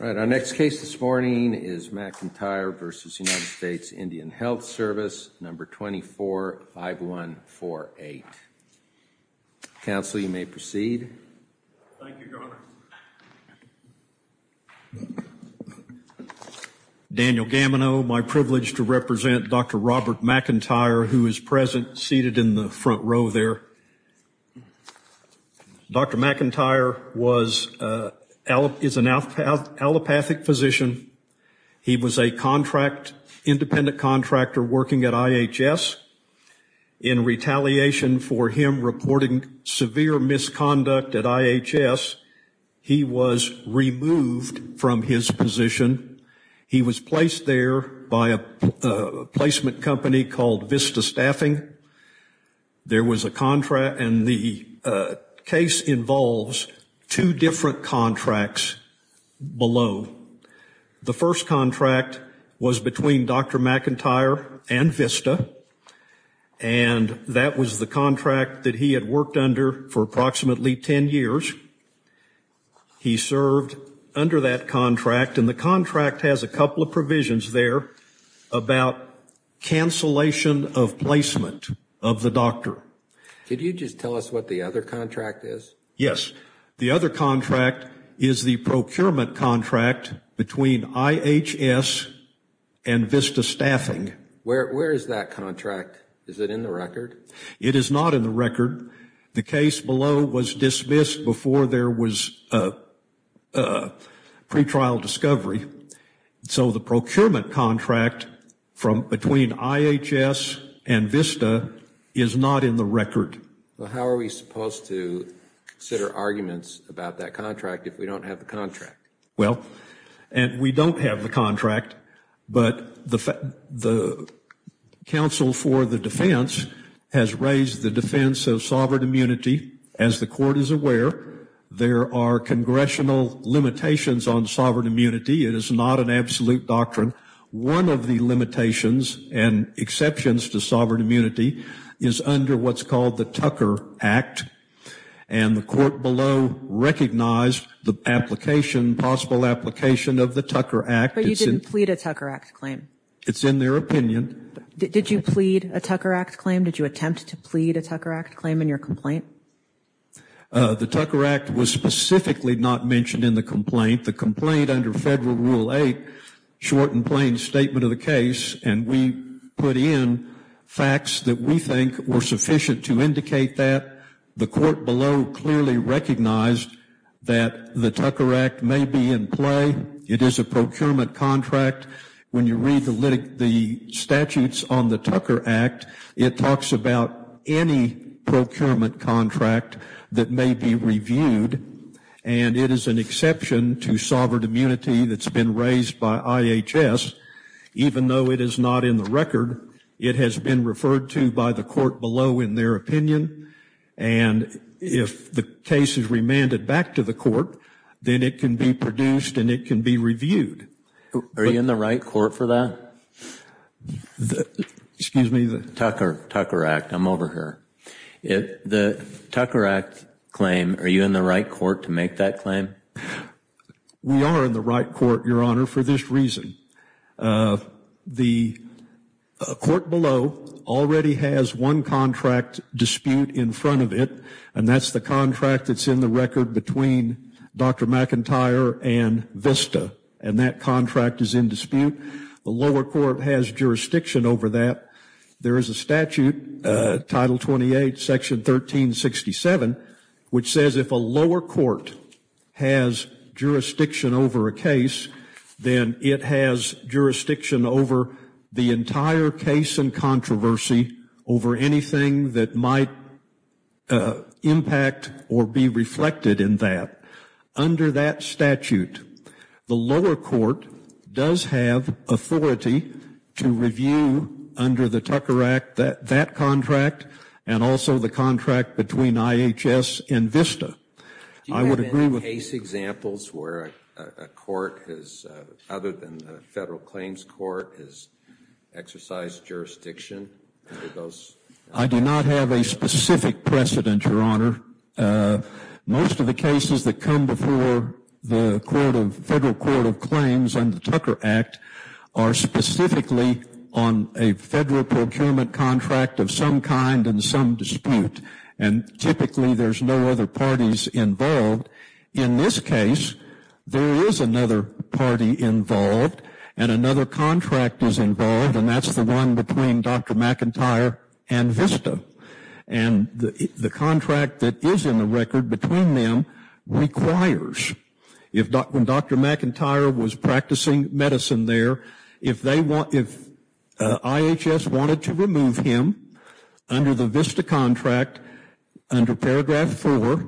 All right, our next case this morning is McIntyre v. United States Indian Health Service, number 245148. Counsel, you may proceed. Thank you, Governor. Daniel Gamino, my privilege to represent Dr. Robert McIntyre, who is present, seated in the front row there. Dr. McIntyre is an allopathic physician. He was an independent contractor working at IHS. In retaliation for him reporting severe misconduct at IHS, he was removed from his position. He was placed there by a placement company called Vista Staffing. There was a contract, and the case involves two different contracts below. The first contract was between Dr. McIntyre and Vista, and that was the contract that he had worked under for approximately 10 years. He served under that contract, and the contract has a couple of provisions there about cancellation of placement of the doctor. Could you just tell us what the other contract is? Yes. The other contract is the procurement contract between IHS and Vista Staffing. Where is that contract? Is it in the record? It is not in the record. The case below was dismissed before there was a pretrial discovery, so the procurement contract between IHS and Vista is not in the record. How are we supposed to consider arguments about that contract if we don't have the contract? We don't have the contract, but the counsel for the defense has raised the defense of sovereign immunity. As the court is aware, there are congressional limitations on sovereign immunity. It is not an absolute doctrine. One of the limitations and exceptions to sovereign immunity is under what's called the Tucker Act, and the court below recognized the possible application of the Tucker Act. But you didn't plead a Tucker Act claim. It's in their opinion. Did you plead a Tucker Act claim? Did you attempt to plead a Tucker Act claim in your complaint? The Tucker Act was specifically not mentioned in the complaint. The complaint under Federal Rule 8, short and plain statement of the case, and we put in facts that we think were sufficient to indicate that. The court below clearly recognized that the Tucker Act may be in play. It is a procurement contract. When you read the statutes on the Tucker Act, it talks about any procurement contract that may be reviewed, and it is an exception to sovereign immunity that's been raised by IHS. Even though it is not in the record, it has been referred to by the court below in their opinion, and if the case is remanded back to the court, then it can be produced and it can be reviewed. Are you in the right court for that? Excuse me? Tucker Act. I'm over here. The Tucker Act claim, are you in the right court to make that claim? We are in the right court, Your Honor, for this reason. The court below already has one contract dispute in front of it, and that's the contract that's in the record between Dr. McIntyre and VISTA, and that contract is in dispute. The lower court has jurisdiction over that. There is a statute, Title 28, Section 1367, which says if a lower court has jurisdiction over a case, then it has jurisdiction over the entire case and controversy over anything that might impact or be reflected in that. Under that statute, the lower court does have authority to review under the Tucker Act that contract and also the contract between IHS and VISTA. Do you have any case examples where a court, other than the Federal Claims Court, has exercised jurisdiction? I do not have a specific precedent, Your Honor. Most of the cases that come before the Federal Court of Claims under the Tucker Act are specifically on a federal procurement contract of some kind and some dispute, and typically there's no other parties involved. In this case, there is another party involved and another contract is involved, and that's the one between Dr. McIntyre and VISTA. And the contract that is in the record between them requires, when Dr. McIntyre was practicing medicine there, if IHS wanted to remove him under the VISTA contract under Paragraph 4,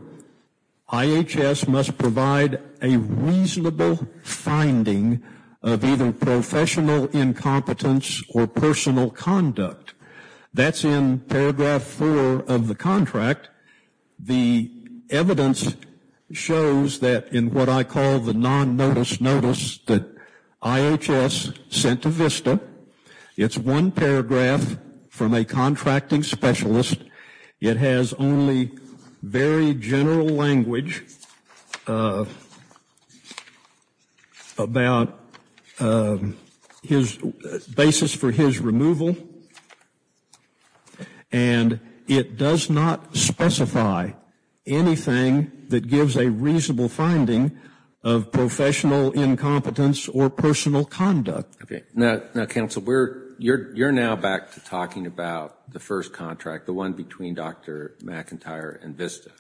IHS must provide a reasonable finding of either professional incompetence or personal conduct. That's in Paragraph 4 of the contract. The evidence shows that in what I call the non-notice notice that IHS sent to VISTA, it's one paragraph from a contracting specialist. It has only very general language about his basis for his removal, and it does not specify anything that gives a reasonable finding of professional incompetence or personal conduct. Now, Counsel, you're now back to talking about the first contract, the one between Dr. McIntyre and VISTA,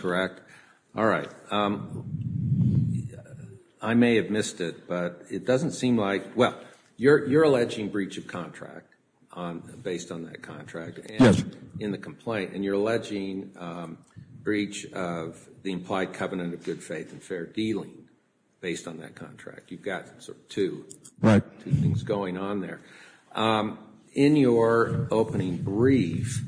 correct? All right. I may have missed it, but it doesn't seem like – well, you're alleging breach of contract based on that contract in the complaint, and you're alleging breach of the implied covenant of good faith and fair dealing based on that contract. You've got two things going on there. In your opening brief,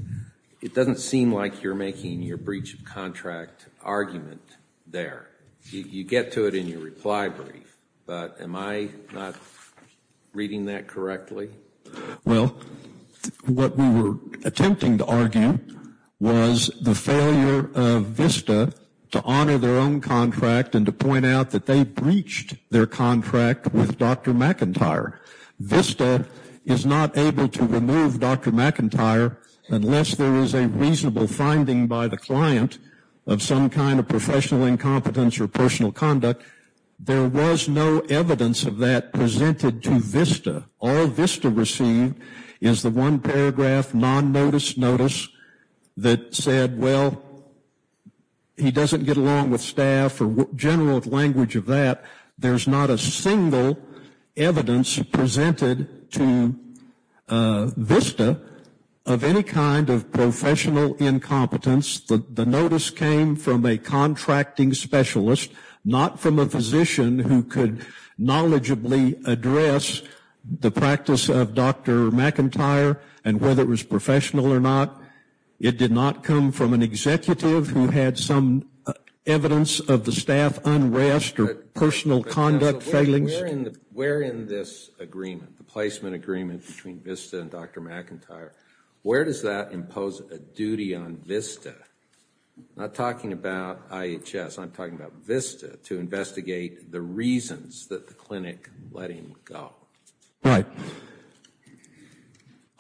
it doesn't seem like you're making your breach of contract argument there. You get to it in your reply brief, but am I not reading that correctly? Well, what we were attempting to argue was the failure of VISTA to honor their own contract and to point out that they breached their contract with Dr. McIntyre. VISTA is not able to remove Dr. McIntyre unless there is a reasonable finding by the client of some kind of professional incompetence or personal conduct. There was no evidence of that presented to VISTA. All VISTA received is the one paragraph, non-notice notice, that said, well, he doesn't get along with staff or general language of that. There's not a single evidence presented to VISTA of any kind of professional incompetence. The notice came from a contracting specialist, not from a physician who could knowledgeably address the practice of Dr. McIntyre and whether it was professional or not. It did not come from an executive who had some evidence of the staff unrest or personal conduct failings. Where in this agreement, the placement agreement between VISTA and Dr. McIntyre, where does that impose a duty on VISTA? I'm not talking about IHS. I'm talking about VISTA to investigate the reasons that the clinic let him go. Right.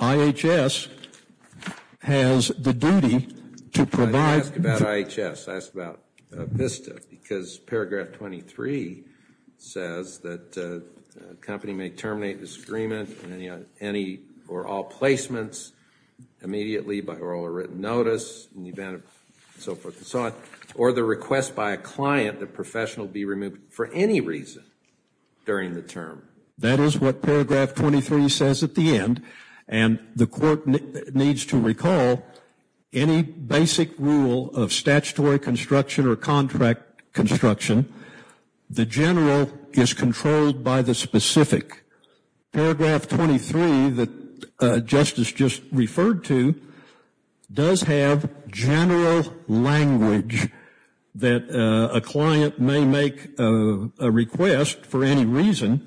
IHS has the duty to provide. I didn't ask about IHS. I asked about VISTA because paragraph 23 says that a company may terminate this agreement on any or all placements immediately by oral or written notice in the event of so forth and so on or the request by a client that a professional be removed for any reason during the term. That is what paragraph 23 says at the end, and the court needs to recall any basic rule of statutory construction or contract construction. The general is controlled by the specific. Paragraph 23 that Justice just referred to does have general language that a client may make a request for any reason.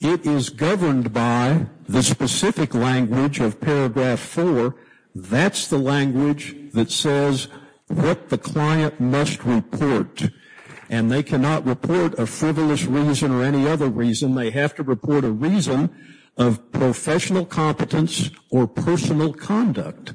It is governed by the specific language of paragraph 4. That's the language that says what the client must report, and they cannot report a frivolous reason or any other reason. They have to report a reason of professional competence or personal conduct,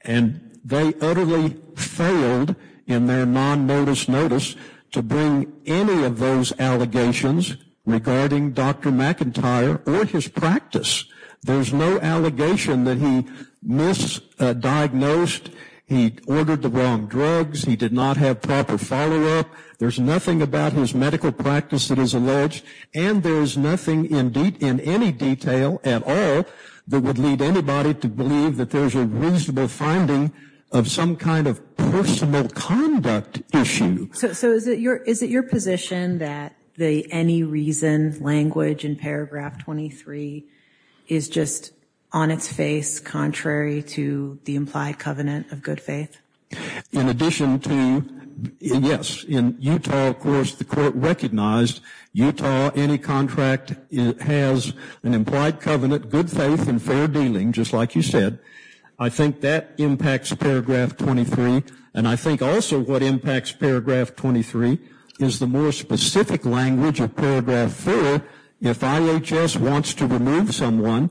and they utterly failed in their non-notice notice to bring any of those allegations regarding Dr. McIntyre or his practice. There's no allegation that he misdiagnosed, he ordered the wrong drugs, he did not have proper follow-up. There's nothing about his medical practice that is alleged, and there's nothing in any detail at all that would lead anybody to believe that there's a reasonable finding of some kind of personal conduct issue. So is it your position that the any reason language in paragraph 23 is just on its face, contrary to the implied covenant of good faith? In addition to, yes, in Utah, of course, the court recognized Utah, any contract has an implied covenant, good faith and fair dealing, just like you said. I think that impacts paragraph 23, and I think also what impacts paragraph 23 is the more specific language of paragraph 4. If IHS wants to remove someone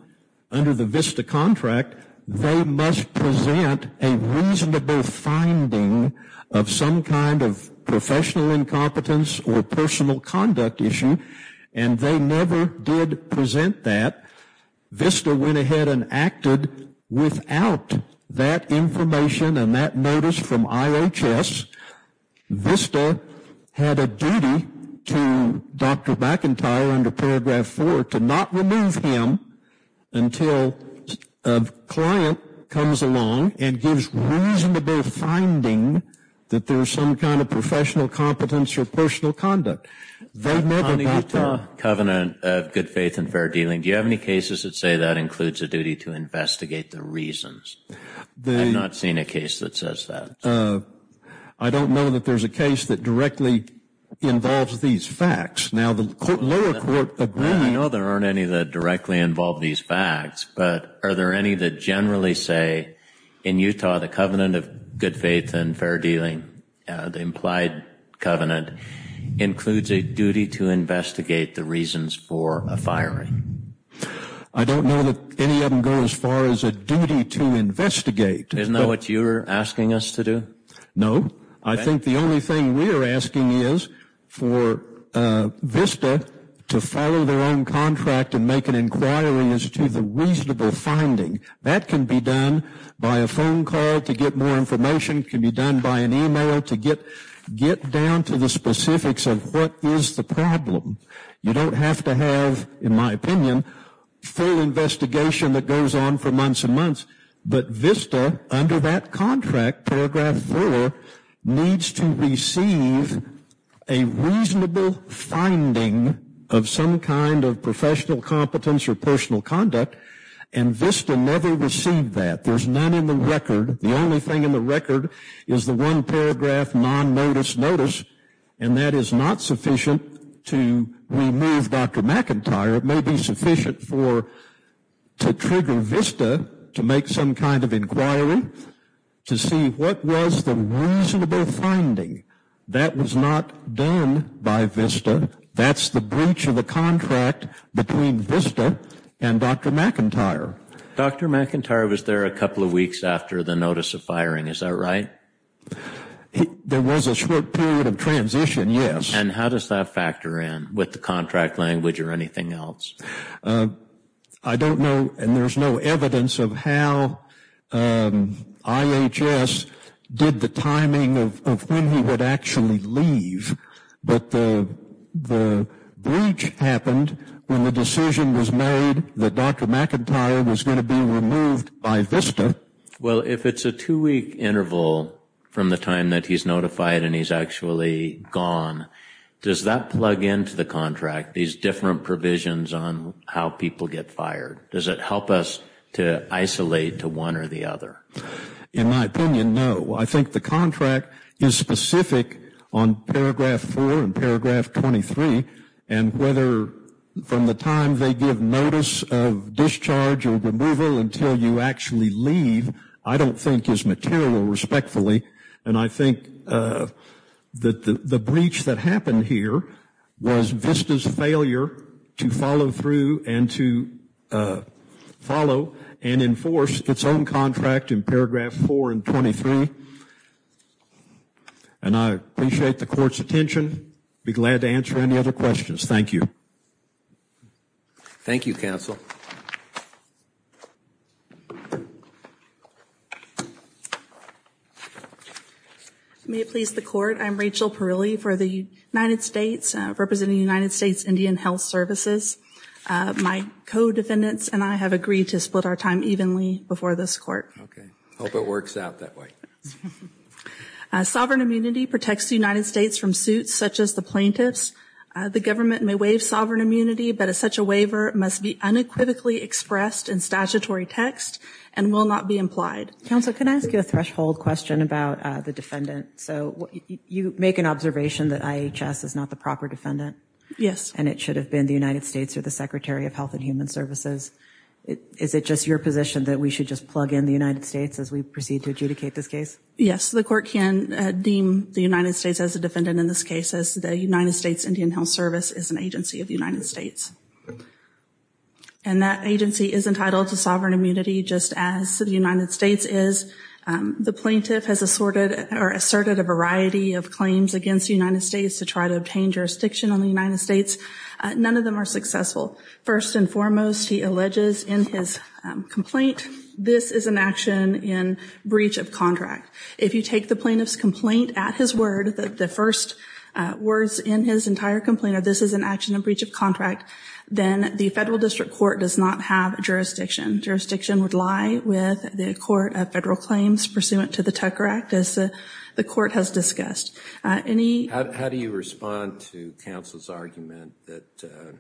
under the VISTA contract, they must present a reasonable finding of some kind of professional incompetence or personal conduct issue, and they never did present that. VISTA went ahead and acted without that information and that notice from IHS. VISTA had a duty to Dr. McIntyre under paragraph 4 to not remove him until a client comes along and gives reasonable finding that there's some kind of professional competence or personal conduct. They never got that. On the Utah covenant of good faith and fair dealing, do you have any cases that say that includes a duty to investigate the reasons? I've not seen a case that says that. I don't know that there's a case that directly involves these facts. Now, the lower court agreed. I know there aren't any that directly involve these facts, but are there any that generally say in Utah the covenant of good faith and fair dealing, the implied covenant, includes a duty to investigate the reasons for a firing? I don't know that any of them go as far as a duty to investigate. Isn't that what you're asking us to do? No. I think the only thing we're asking is for VISTA to follow their own contract and make an inquiry as to the reasonable finding. That can be done by a phone call to get more information. It can be done by an email to get down to the specifics of what is the problem. You don't have to have, in my opinion, full investigation that goes on for months and months. But VISTA, under that contract, Paragraph 4, needs to receive a reasonable finding of some kind of professional competence or personal conduct, and VISTA never received that. There's none in the record. The only thing in the record is the one paragraph non-notice notice, and that is not sufficient to remove Dr. McIntyre. It may be sufficient to trigger VISTA to make some kind of inquiry to see what was the reasonable finding. That was not done by VISTA. That's the breach of the contract between VISTA and Dr. McIntyre. Dr. McIntyre was there a couple of weeks after the notice of firing. Is that right? There was a short period of transition, yes. And how does that factor in with the contract language or anything else? I don't know, and there's no evidence of how IHS did the timing of when he would actually leave. But the breach happened when the decision was made that Dr. McIntyre was going to be removed by VISTA. Well, if it's a two-week interval from the time that he's notified and he's actually gone, does that plug into the contract, these different provisions on how people get fired? Does it help us to isolate to one or the other? In my opinion, no. I think the contract is specific on Paragraph 4 and Paragraph 23, and whether from the time they give notice of discharge or removal until you actually leave, I don't think is material respectfully. And I think the breach that happened here was VISTA's failure to follow through and to follow and enforce its own contract in Paragraph 4 and 23. And I appreciate the Court's attention. I'd be glad to answer any other questions. Thank you. Thank you, Counsel. May it please the Court. I'm Rachel Parilli for the United States, representing the United States Indian Health Services. My co-defendants and I have agreed to split our time evenly before this Court. I hope it works out that way. Sovereign immunity protects the United States from suits such as the plaintiff's. The government may waive sovereign immunity, but such a waiver must be unequivocally expressed in statutory text and will not be implied. Counsel, can I ask you a threshold question about the defendant? So you make an observation that IHS is not the proper defendant. Yes. And it should have been the United States or the Secretary of Health and Human Services. Is it just your position that we should just plug in the United States as we proceed to adjudicate this case? Yes. The Court can deem the United States as a defendant in this case, as the United States Indian Health Service is an agency of the United States. And that agency is entitled to sovereign immunity just as the United States is. The plaintiff has assorted or asserted a variety of claims against the United States to try to obtain jurisdiction on the United States. None of them are successful. First and foremost, he alleges in his complaint this is an action in breach of contract. If you take the plaintiff's complaint at his word, the first words in his entire complaint are this is an action in breach of contract, then the Federal District Court does not have jurisdiction. Jurisdiction would lie with the Court of Federal Claims pursuant to the Tucker Act, as the Court has discussed. How do you respond to counsel's argument that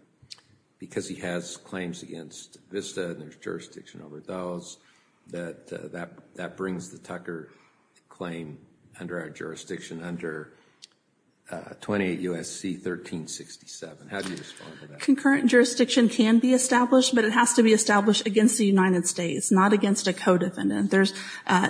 because he has claims against VISTA and there's jurisdiction over those, that that brings the Tucker claim under our jurisdiction under 28 U.S.C. 1367? How do you respond to that? Concurrent jurisdiction can be established, but it has to be established against the United States, not against a co-defendant. There's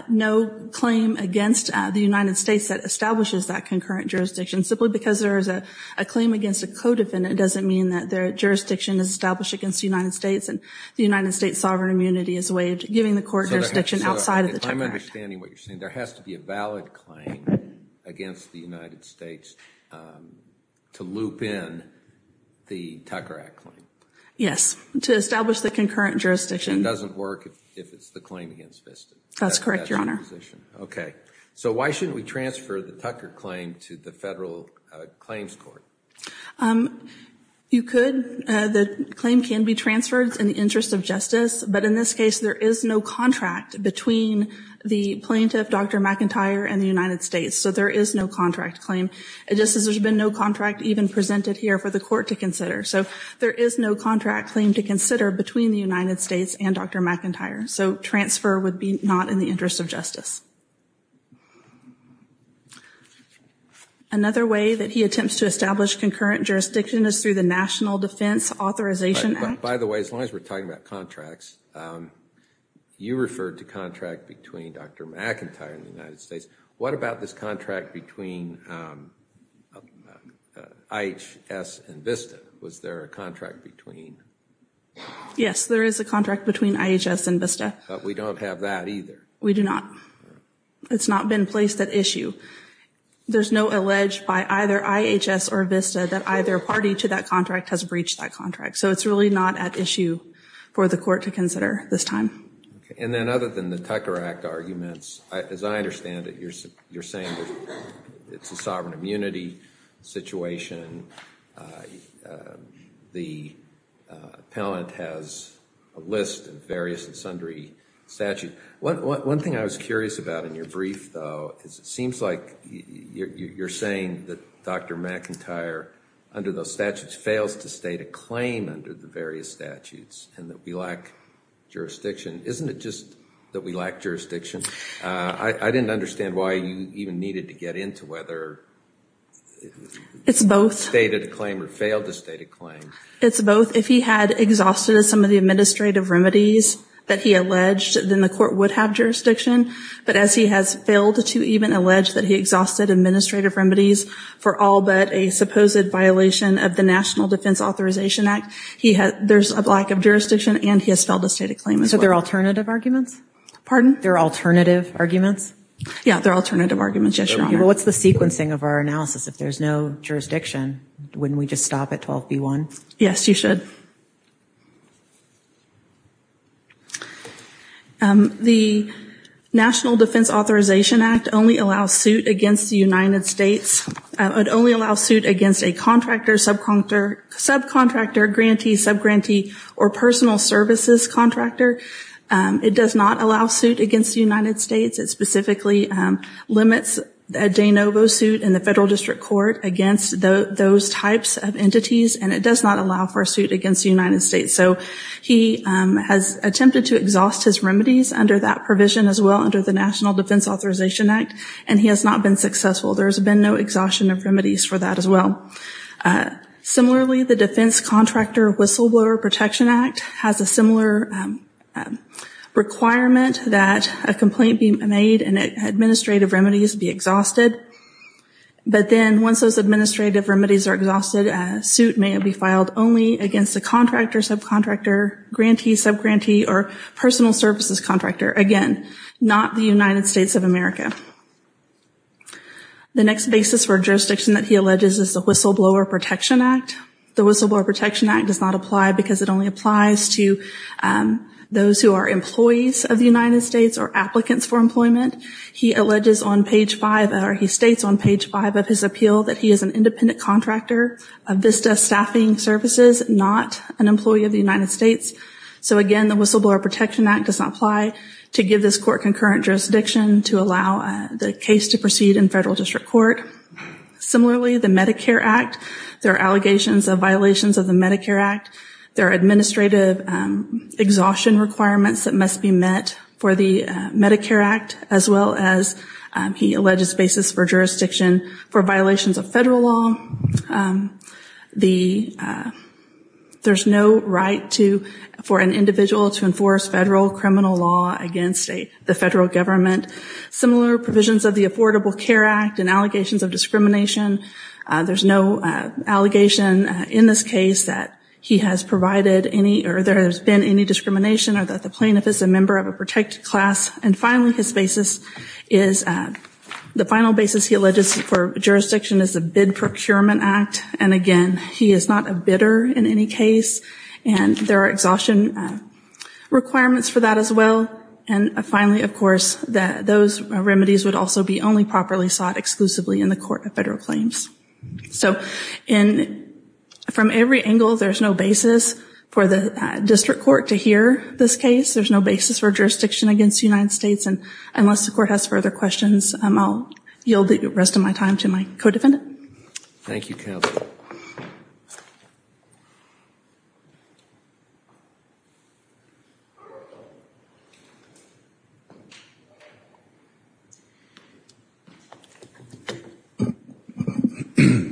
no claim against the United States that establishes that concurrent jurisdiction. Simply because there is a claim against a co-defendant doesn't mean that their jurisdiction is established against the United States and the United States' sovereign immunity is waived, giving the court jurisdiction outside of the Tucker Act. There has to be a valid claim against the United States to loop in the Tucker Act claim. Yes, to establish the concurrent jurisdiction. It doesn't work if it's the claim against VISTA. That's correct, Your Honor. Okay. So why shouldn't we transfer the Tucker claim to the Federal Claims Court? You could. The claim can be transferred in the interest of justice, but in this case there is no contract between the plaintiff, Dr. McIntyre, and the United States. So there is no contract claim. Just as there's been no contract even presented here for the court to consider. So there is no contract claim to consider between the United States and Dr. McIntyre. So transfer would be not in the interest of justice. Another way that he attempts to establish concurrent jurisdiction is through the National Defense Authorization Act. By the way, as long as we're talking about contracts, you referred to contract between Dr. McIntyre and the United States. What about this contract between IHS and VISTA? Was there a contract between? Yes, there is a contract between IHS and VISTA. But we don't have that either. We do not. It's not been placed at issue. There's no allege by either IHS or VISTA that either party to that contract has breached that contract. So it's really not at issue for the court to consider this time. And then other than the Tucker Act arguments, as I understand it, you're saying it's a sovereign immunity situation. The appellant has a list of various and sundry statutes. One thing I was curious about in your brief, though, because it seems like you're saying that Dr. McIntyre, under those statutes, fails to state a claim under the various statutes and that we lack jurisdiction. Isn't it just that we lack jurisdiction? I didn't understand why you even needed to get into whether he stated a claim or failed to state a claim. It's both. If he had exhausted some of the administrative remedies that he alleged, then the court would have jurisdiction. But as he has failed to even allege that he exhausted administrative remedies for all but a supposed violation of the National Defense Authorization Act, there's a lack of jurisdiction and he has failed to state a claim as well. So they're alternative arguments? Pardon? They're alternative arguments? Yeah, they're alternative arguments, yes, Your Honor. Well, what's the sequencing of our analysis if there's no jurisdiction? Wouldn't we just stop at 12b-1? Yes, you should. Thank you. The National Defense Authorization Act only allows suit against the United States. It only allows suit against a contractor, subcontractor, grantee, subgrantee, or personal services contractor. It does not allow suit against the United States. It specifically limits a de novo suit in the federal district court against those types of entities, and it does not allow for a suit against the United States. So he has attempted to exhaust his remedies under that provision as well, under the National Defense Authorization Act, and he has not been successful. There's been no exhaustion of remedies for that as well. Similarly, the Defense Contractor Whistleblower Protection Act has a similar requirement that a complaint be made and administrative remedies be exhausted. But then once those administrative remedies are exhausted, a suit may be filed only against a contractor, subcontractor, grantee, subgrantee, or personal services contractor. Again, not the United States of America. The next basis for jurisdiction that he alleges is the Whistleblower Protection Act. The Whistleblower Protection Act does not apply because it only applies to those who are employees of the United States or applicants for employment. He alleges on page 5, or he states on page 5 of his appeal, that he is an independent contractor of VISTA staffing services, not an employee of the United States. So again, the Whistleblower Protection Act does not apply to give this court concurrent jurisdiction to allow the case to proceed in federal district court. Similarly, the Medicare Act, there are allegations of violations of the Medicare Act. There are administrative exhaustion requirements that must be met for the Medicare Act, as well as he alleges basis for jurisdiction for violations of federal law. There's no right for an individual to enforce federal criminal law against the federal government. Similar provisions of the Affordable Care Act and allegations of discrimination, there's no allegation in this case that he has provided any or there has been any discrimination or that the plaintiff is a member of a protected class. And finally, his basis is the final basis he alleges for jurisdiction is the Bid Procurement Act. And again, he is not a bidder in any case. And there are exhaustion requirements for that as well. And finally, of course, that those remedies would also be only properly sought exclusively in the court of federal claims. So from every angle, there's no basis for the district court to hear this case. There's no basis for jurisdiction against the United States. And unless the court has further questions, I'll yield the rest of my time to my co-defendant. Thank you, Kevin.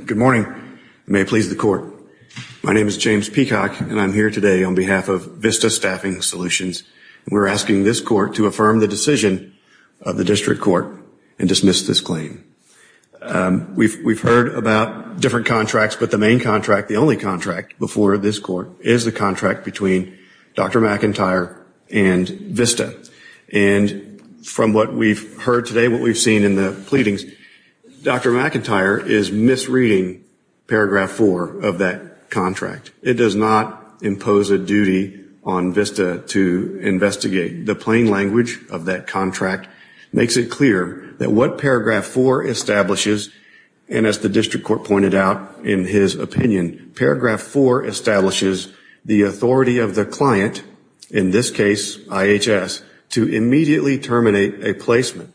Good morning. May it please the court. My name is James Peacock, and I'm here today on behalf of Vista Staffing Solutions. We're asking this court to affirm the decision of the district court and dismiss this claim. We've heard about different contracts, but the main contract, the only contract before this court, is the contract between Dr. McIntyre and Vista. And from what we've heard today, what we've seen in the pleadings, Dr. McIntyre is misreading paragraph four of that contract. It does not impose a duty on Vista to investigate. The plain language of that contract makes it clear that what paragraph four establishes, and as the district court pointed out in his opinion, paragraph four establishes the authority of the client, in this case IHS, to immediately terminate a placement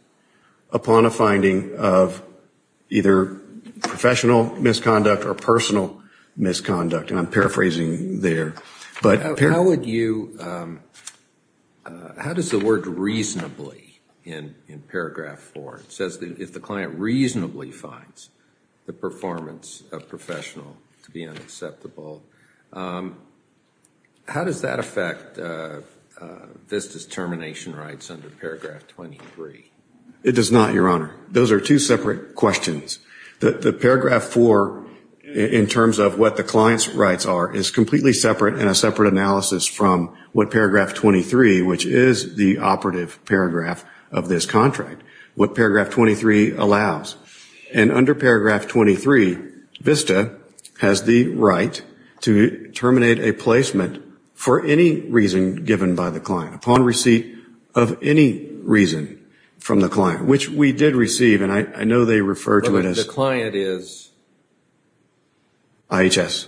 upon a finding of either professional misconduct or personal misconduct. And I'm paraphrasing there. How would you, how does the word reasonably in paragraph four, it says that if the client reasonably finds the performance of professional to be unacceptable, how does that affect Vista's termination rights under paragraph 23? It does not, Your Honor. Those are two separate questions. The paragraph four, in terms of what the client's rights are, is completely separate and a separate analysis from what paragraph 23, which is the operative paragraph of this contract, what paragraph 23 allows. And under paragraph 23, Vista has the right to terminate a placement for any reason given by the client, upon receipt of any reason from the client, which we did receive, and I know they refer to it as IHS.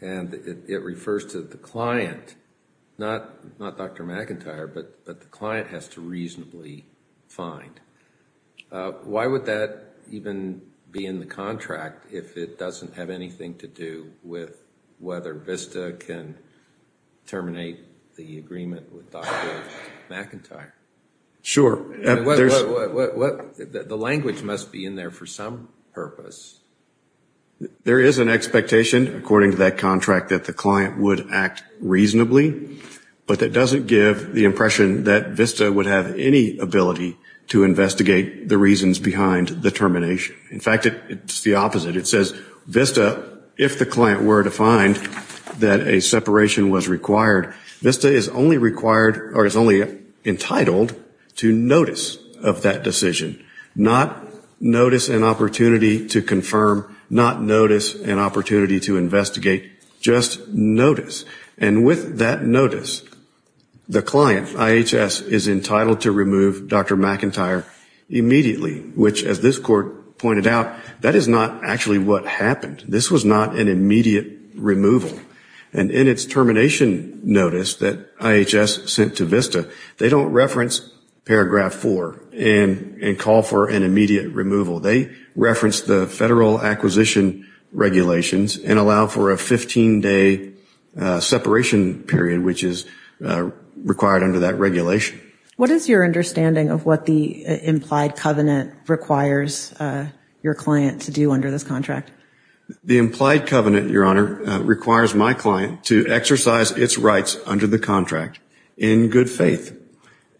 And it refers to the client, not Dr. McIntyre, but the client has to reasonably find. Why would that even be in the contract if it doesn't have anything to do with whether Vista can terminate the agreement with Dr. McIntyre? Sure. The language must be in there for some purpose. There is an expectation, according to that contract, that the client would act reasonably, but that doesn't give the impression that Vista would have any ability to investigate the reasons behind the termination. In fact, it's the opposite. It says, Vista, if the client were to find that a separation was required, Vista is only required or is only entitled to notice of that decision, not notice an opportunity to confirm, not notice an opportunity to investigate, just notice. And with that notice, the client, IHS, is entitled to remove Dr. McIntyre immediately, which, as this court pointed out, that is not actually what happened. This was not an immediate removal. And in its termination notice that IHS sent to Vista, they don't reference Paragraph 4 and call for an immediate removal. They reference the federal acquisition regulations and allow for a 15-day separation period, which is required under that regulation. What is your understanding of what the implied covenant requires your client to do under this contract? The implied covenant, Your Honor, requires my client to exercise its rights under the contract in good faith.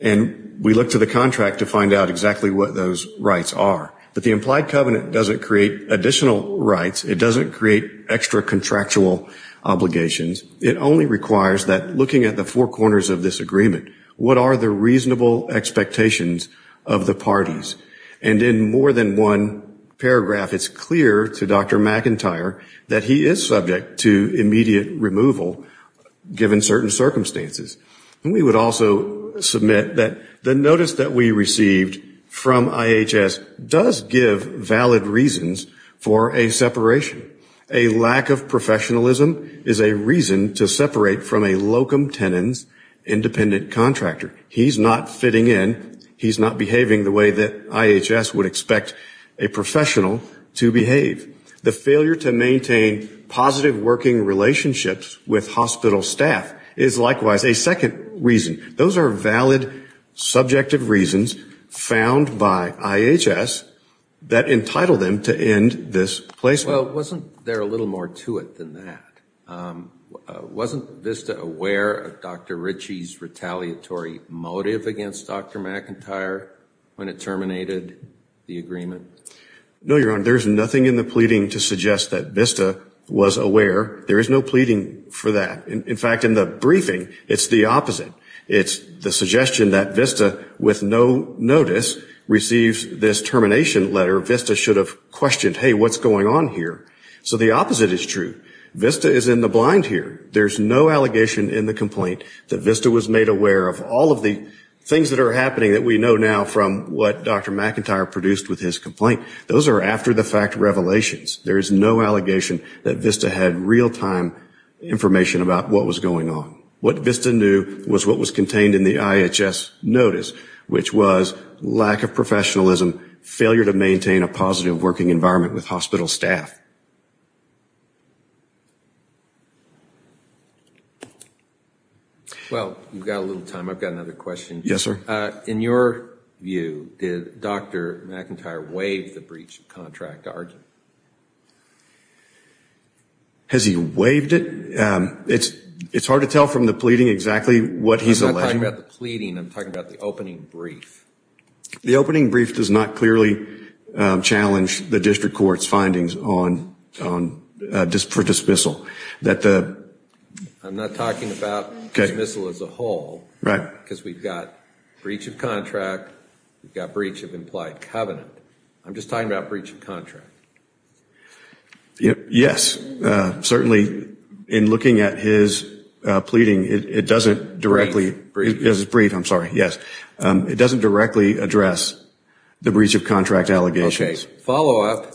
And we look to the contract to find out exactly what those rights are. But the implied covenant doesn't create additional rights. It doesn't create extra contractual obligations. It only requires that looking at the four corners of this agreement, what are the reasonable expectations of the parties? And in more than one paragraph, it's clear to Dr. McIntyre that he is subject to immediate removal, given certain circumstances. And we would also submit that the notice that we received from IHS does give valid reasons for a separation. A lack of professionalism is a reason to separate from a locum tenens independent contractor. He's not fitting in. He's not behaving the way that IHS would expect a professional to behave. The failure to maintain positive working relationships with hospital staff is likewise a second reason. Those are valid subjective reasons found by IHS that entitle them to end this placement. Well, wasn't there a little more to it than that? Wasn't VISTA aware of Dr. Ritchie's retaliatory motive against Dr. McIntyre when it terminated the agreement? No, Your Honor. There's nothing in the pleading to suggest that VISTA was aware. There is no pleading for that. In fact, in the briefing, it's the opposite. It's the suggestion that VISTA, with no notice, receives this termination letter. VISTA should have questioned, hey, what's going on here? So the opposite is true. VISTA is in the blind here. There's no allegation in the complaint that VISTA was made aware of all of the things that are happening that we know now from what Dr. McIntyre produced with his complaint. Those are after-the-fact revelations. There is no allegation that VISTA had real-time information about what was going on. What VISTA knew was what was contained in the IHS notice, which was lack of professionalism, and also failure to maintain a positive working environment with hospital staff. Well, we've got a little time. I've got another question. Yes, sir. In your view, did Dr. McIntyre waive the breach of contract? Has he waived it? It's hard to tell from the pleading exactly what he's alleging. I'm not talking about the pleading. I'm talking about the opening brief. The opening brief does not clearly challenge the district court's findings for dismissal. I'm not talking about dismissal as a whole, because we've got breach of contract, we've got breach of implied covenant. I'm just talking about breach of contract. Yes, certainly in looking at his pleading, it doesn't directly. Breach. Breach, I'm sorry, yes. It doesn't directly address the breach of contract allegations. Follow-up,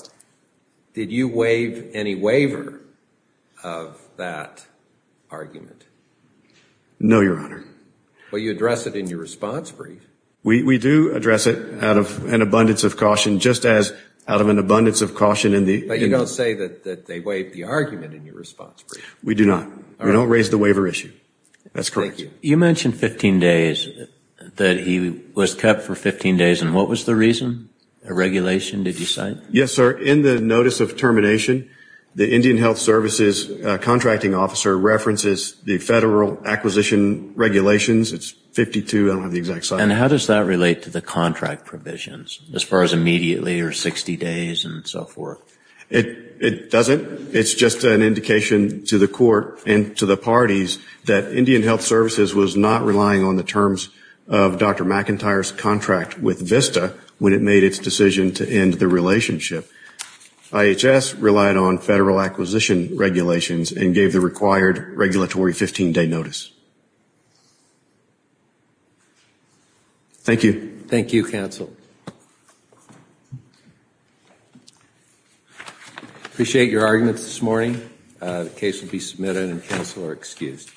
did you waive any waiver of that argument? No, Your Honor. Well, you address it in your response brief. We do address it out of an abundance of caution, just as out of an abundance of caution in the... But you don't say that they waived the argument in your response brief. We do not. We don't raise the waiver issue. That's correct. You mentioned 15 days, that he was kept for 15 days, and what was the reason? A regulation, did you cite? Yes, sir. In the notice of termination, the Indian Health Services contracting officer references the federal acquisition regulations. It's 52, I don't have the exact size. And how does that relate to the contract provisions, as far as immediately or 60 days and so forth? It doesn't. It's just an indication to the court and to the parties that Indian Health Services was not relying on the terms of Dr. McIntyre's contract with VISTA when it made its decision to end the relationship. IHS relied on federal acquisition regulations and gave the required regulatory 15-day notice. Thank you. Thank you, counsel. Appreciate your arguments this morning. The case will be submitted and counsel are excused.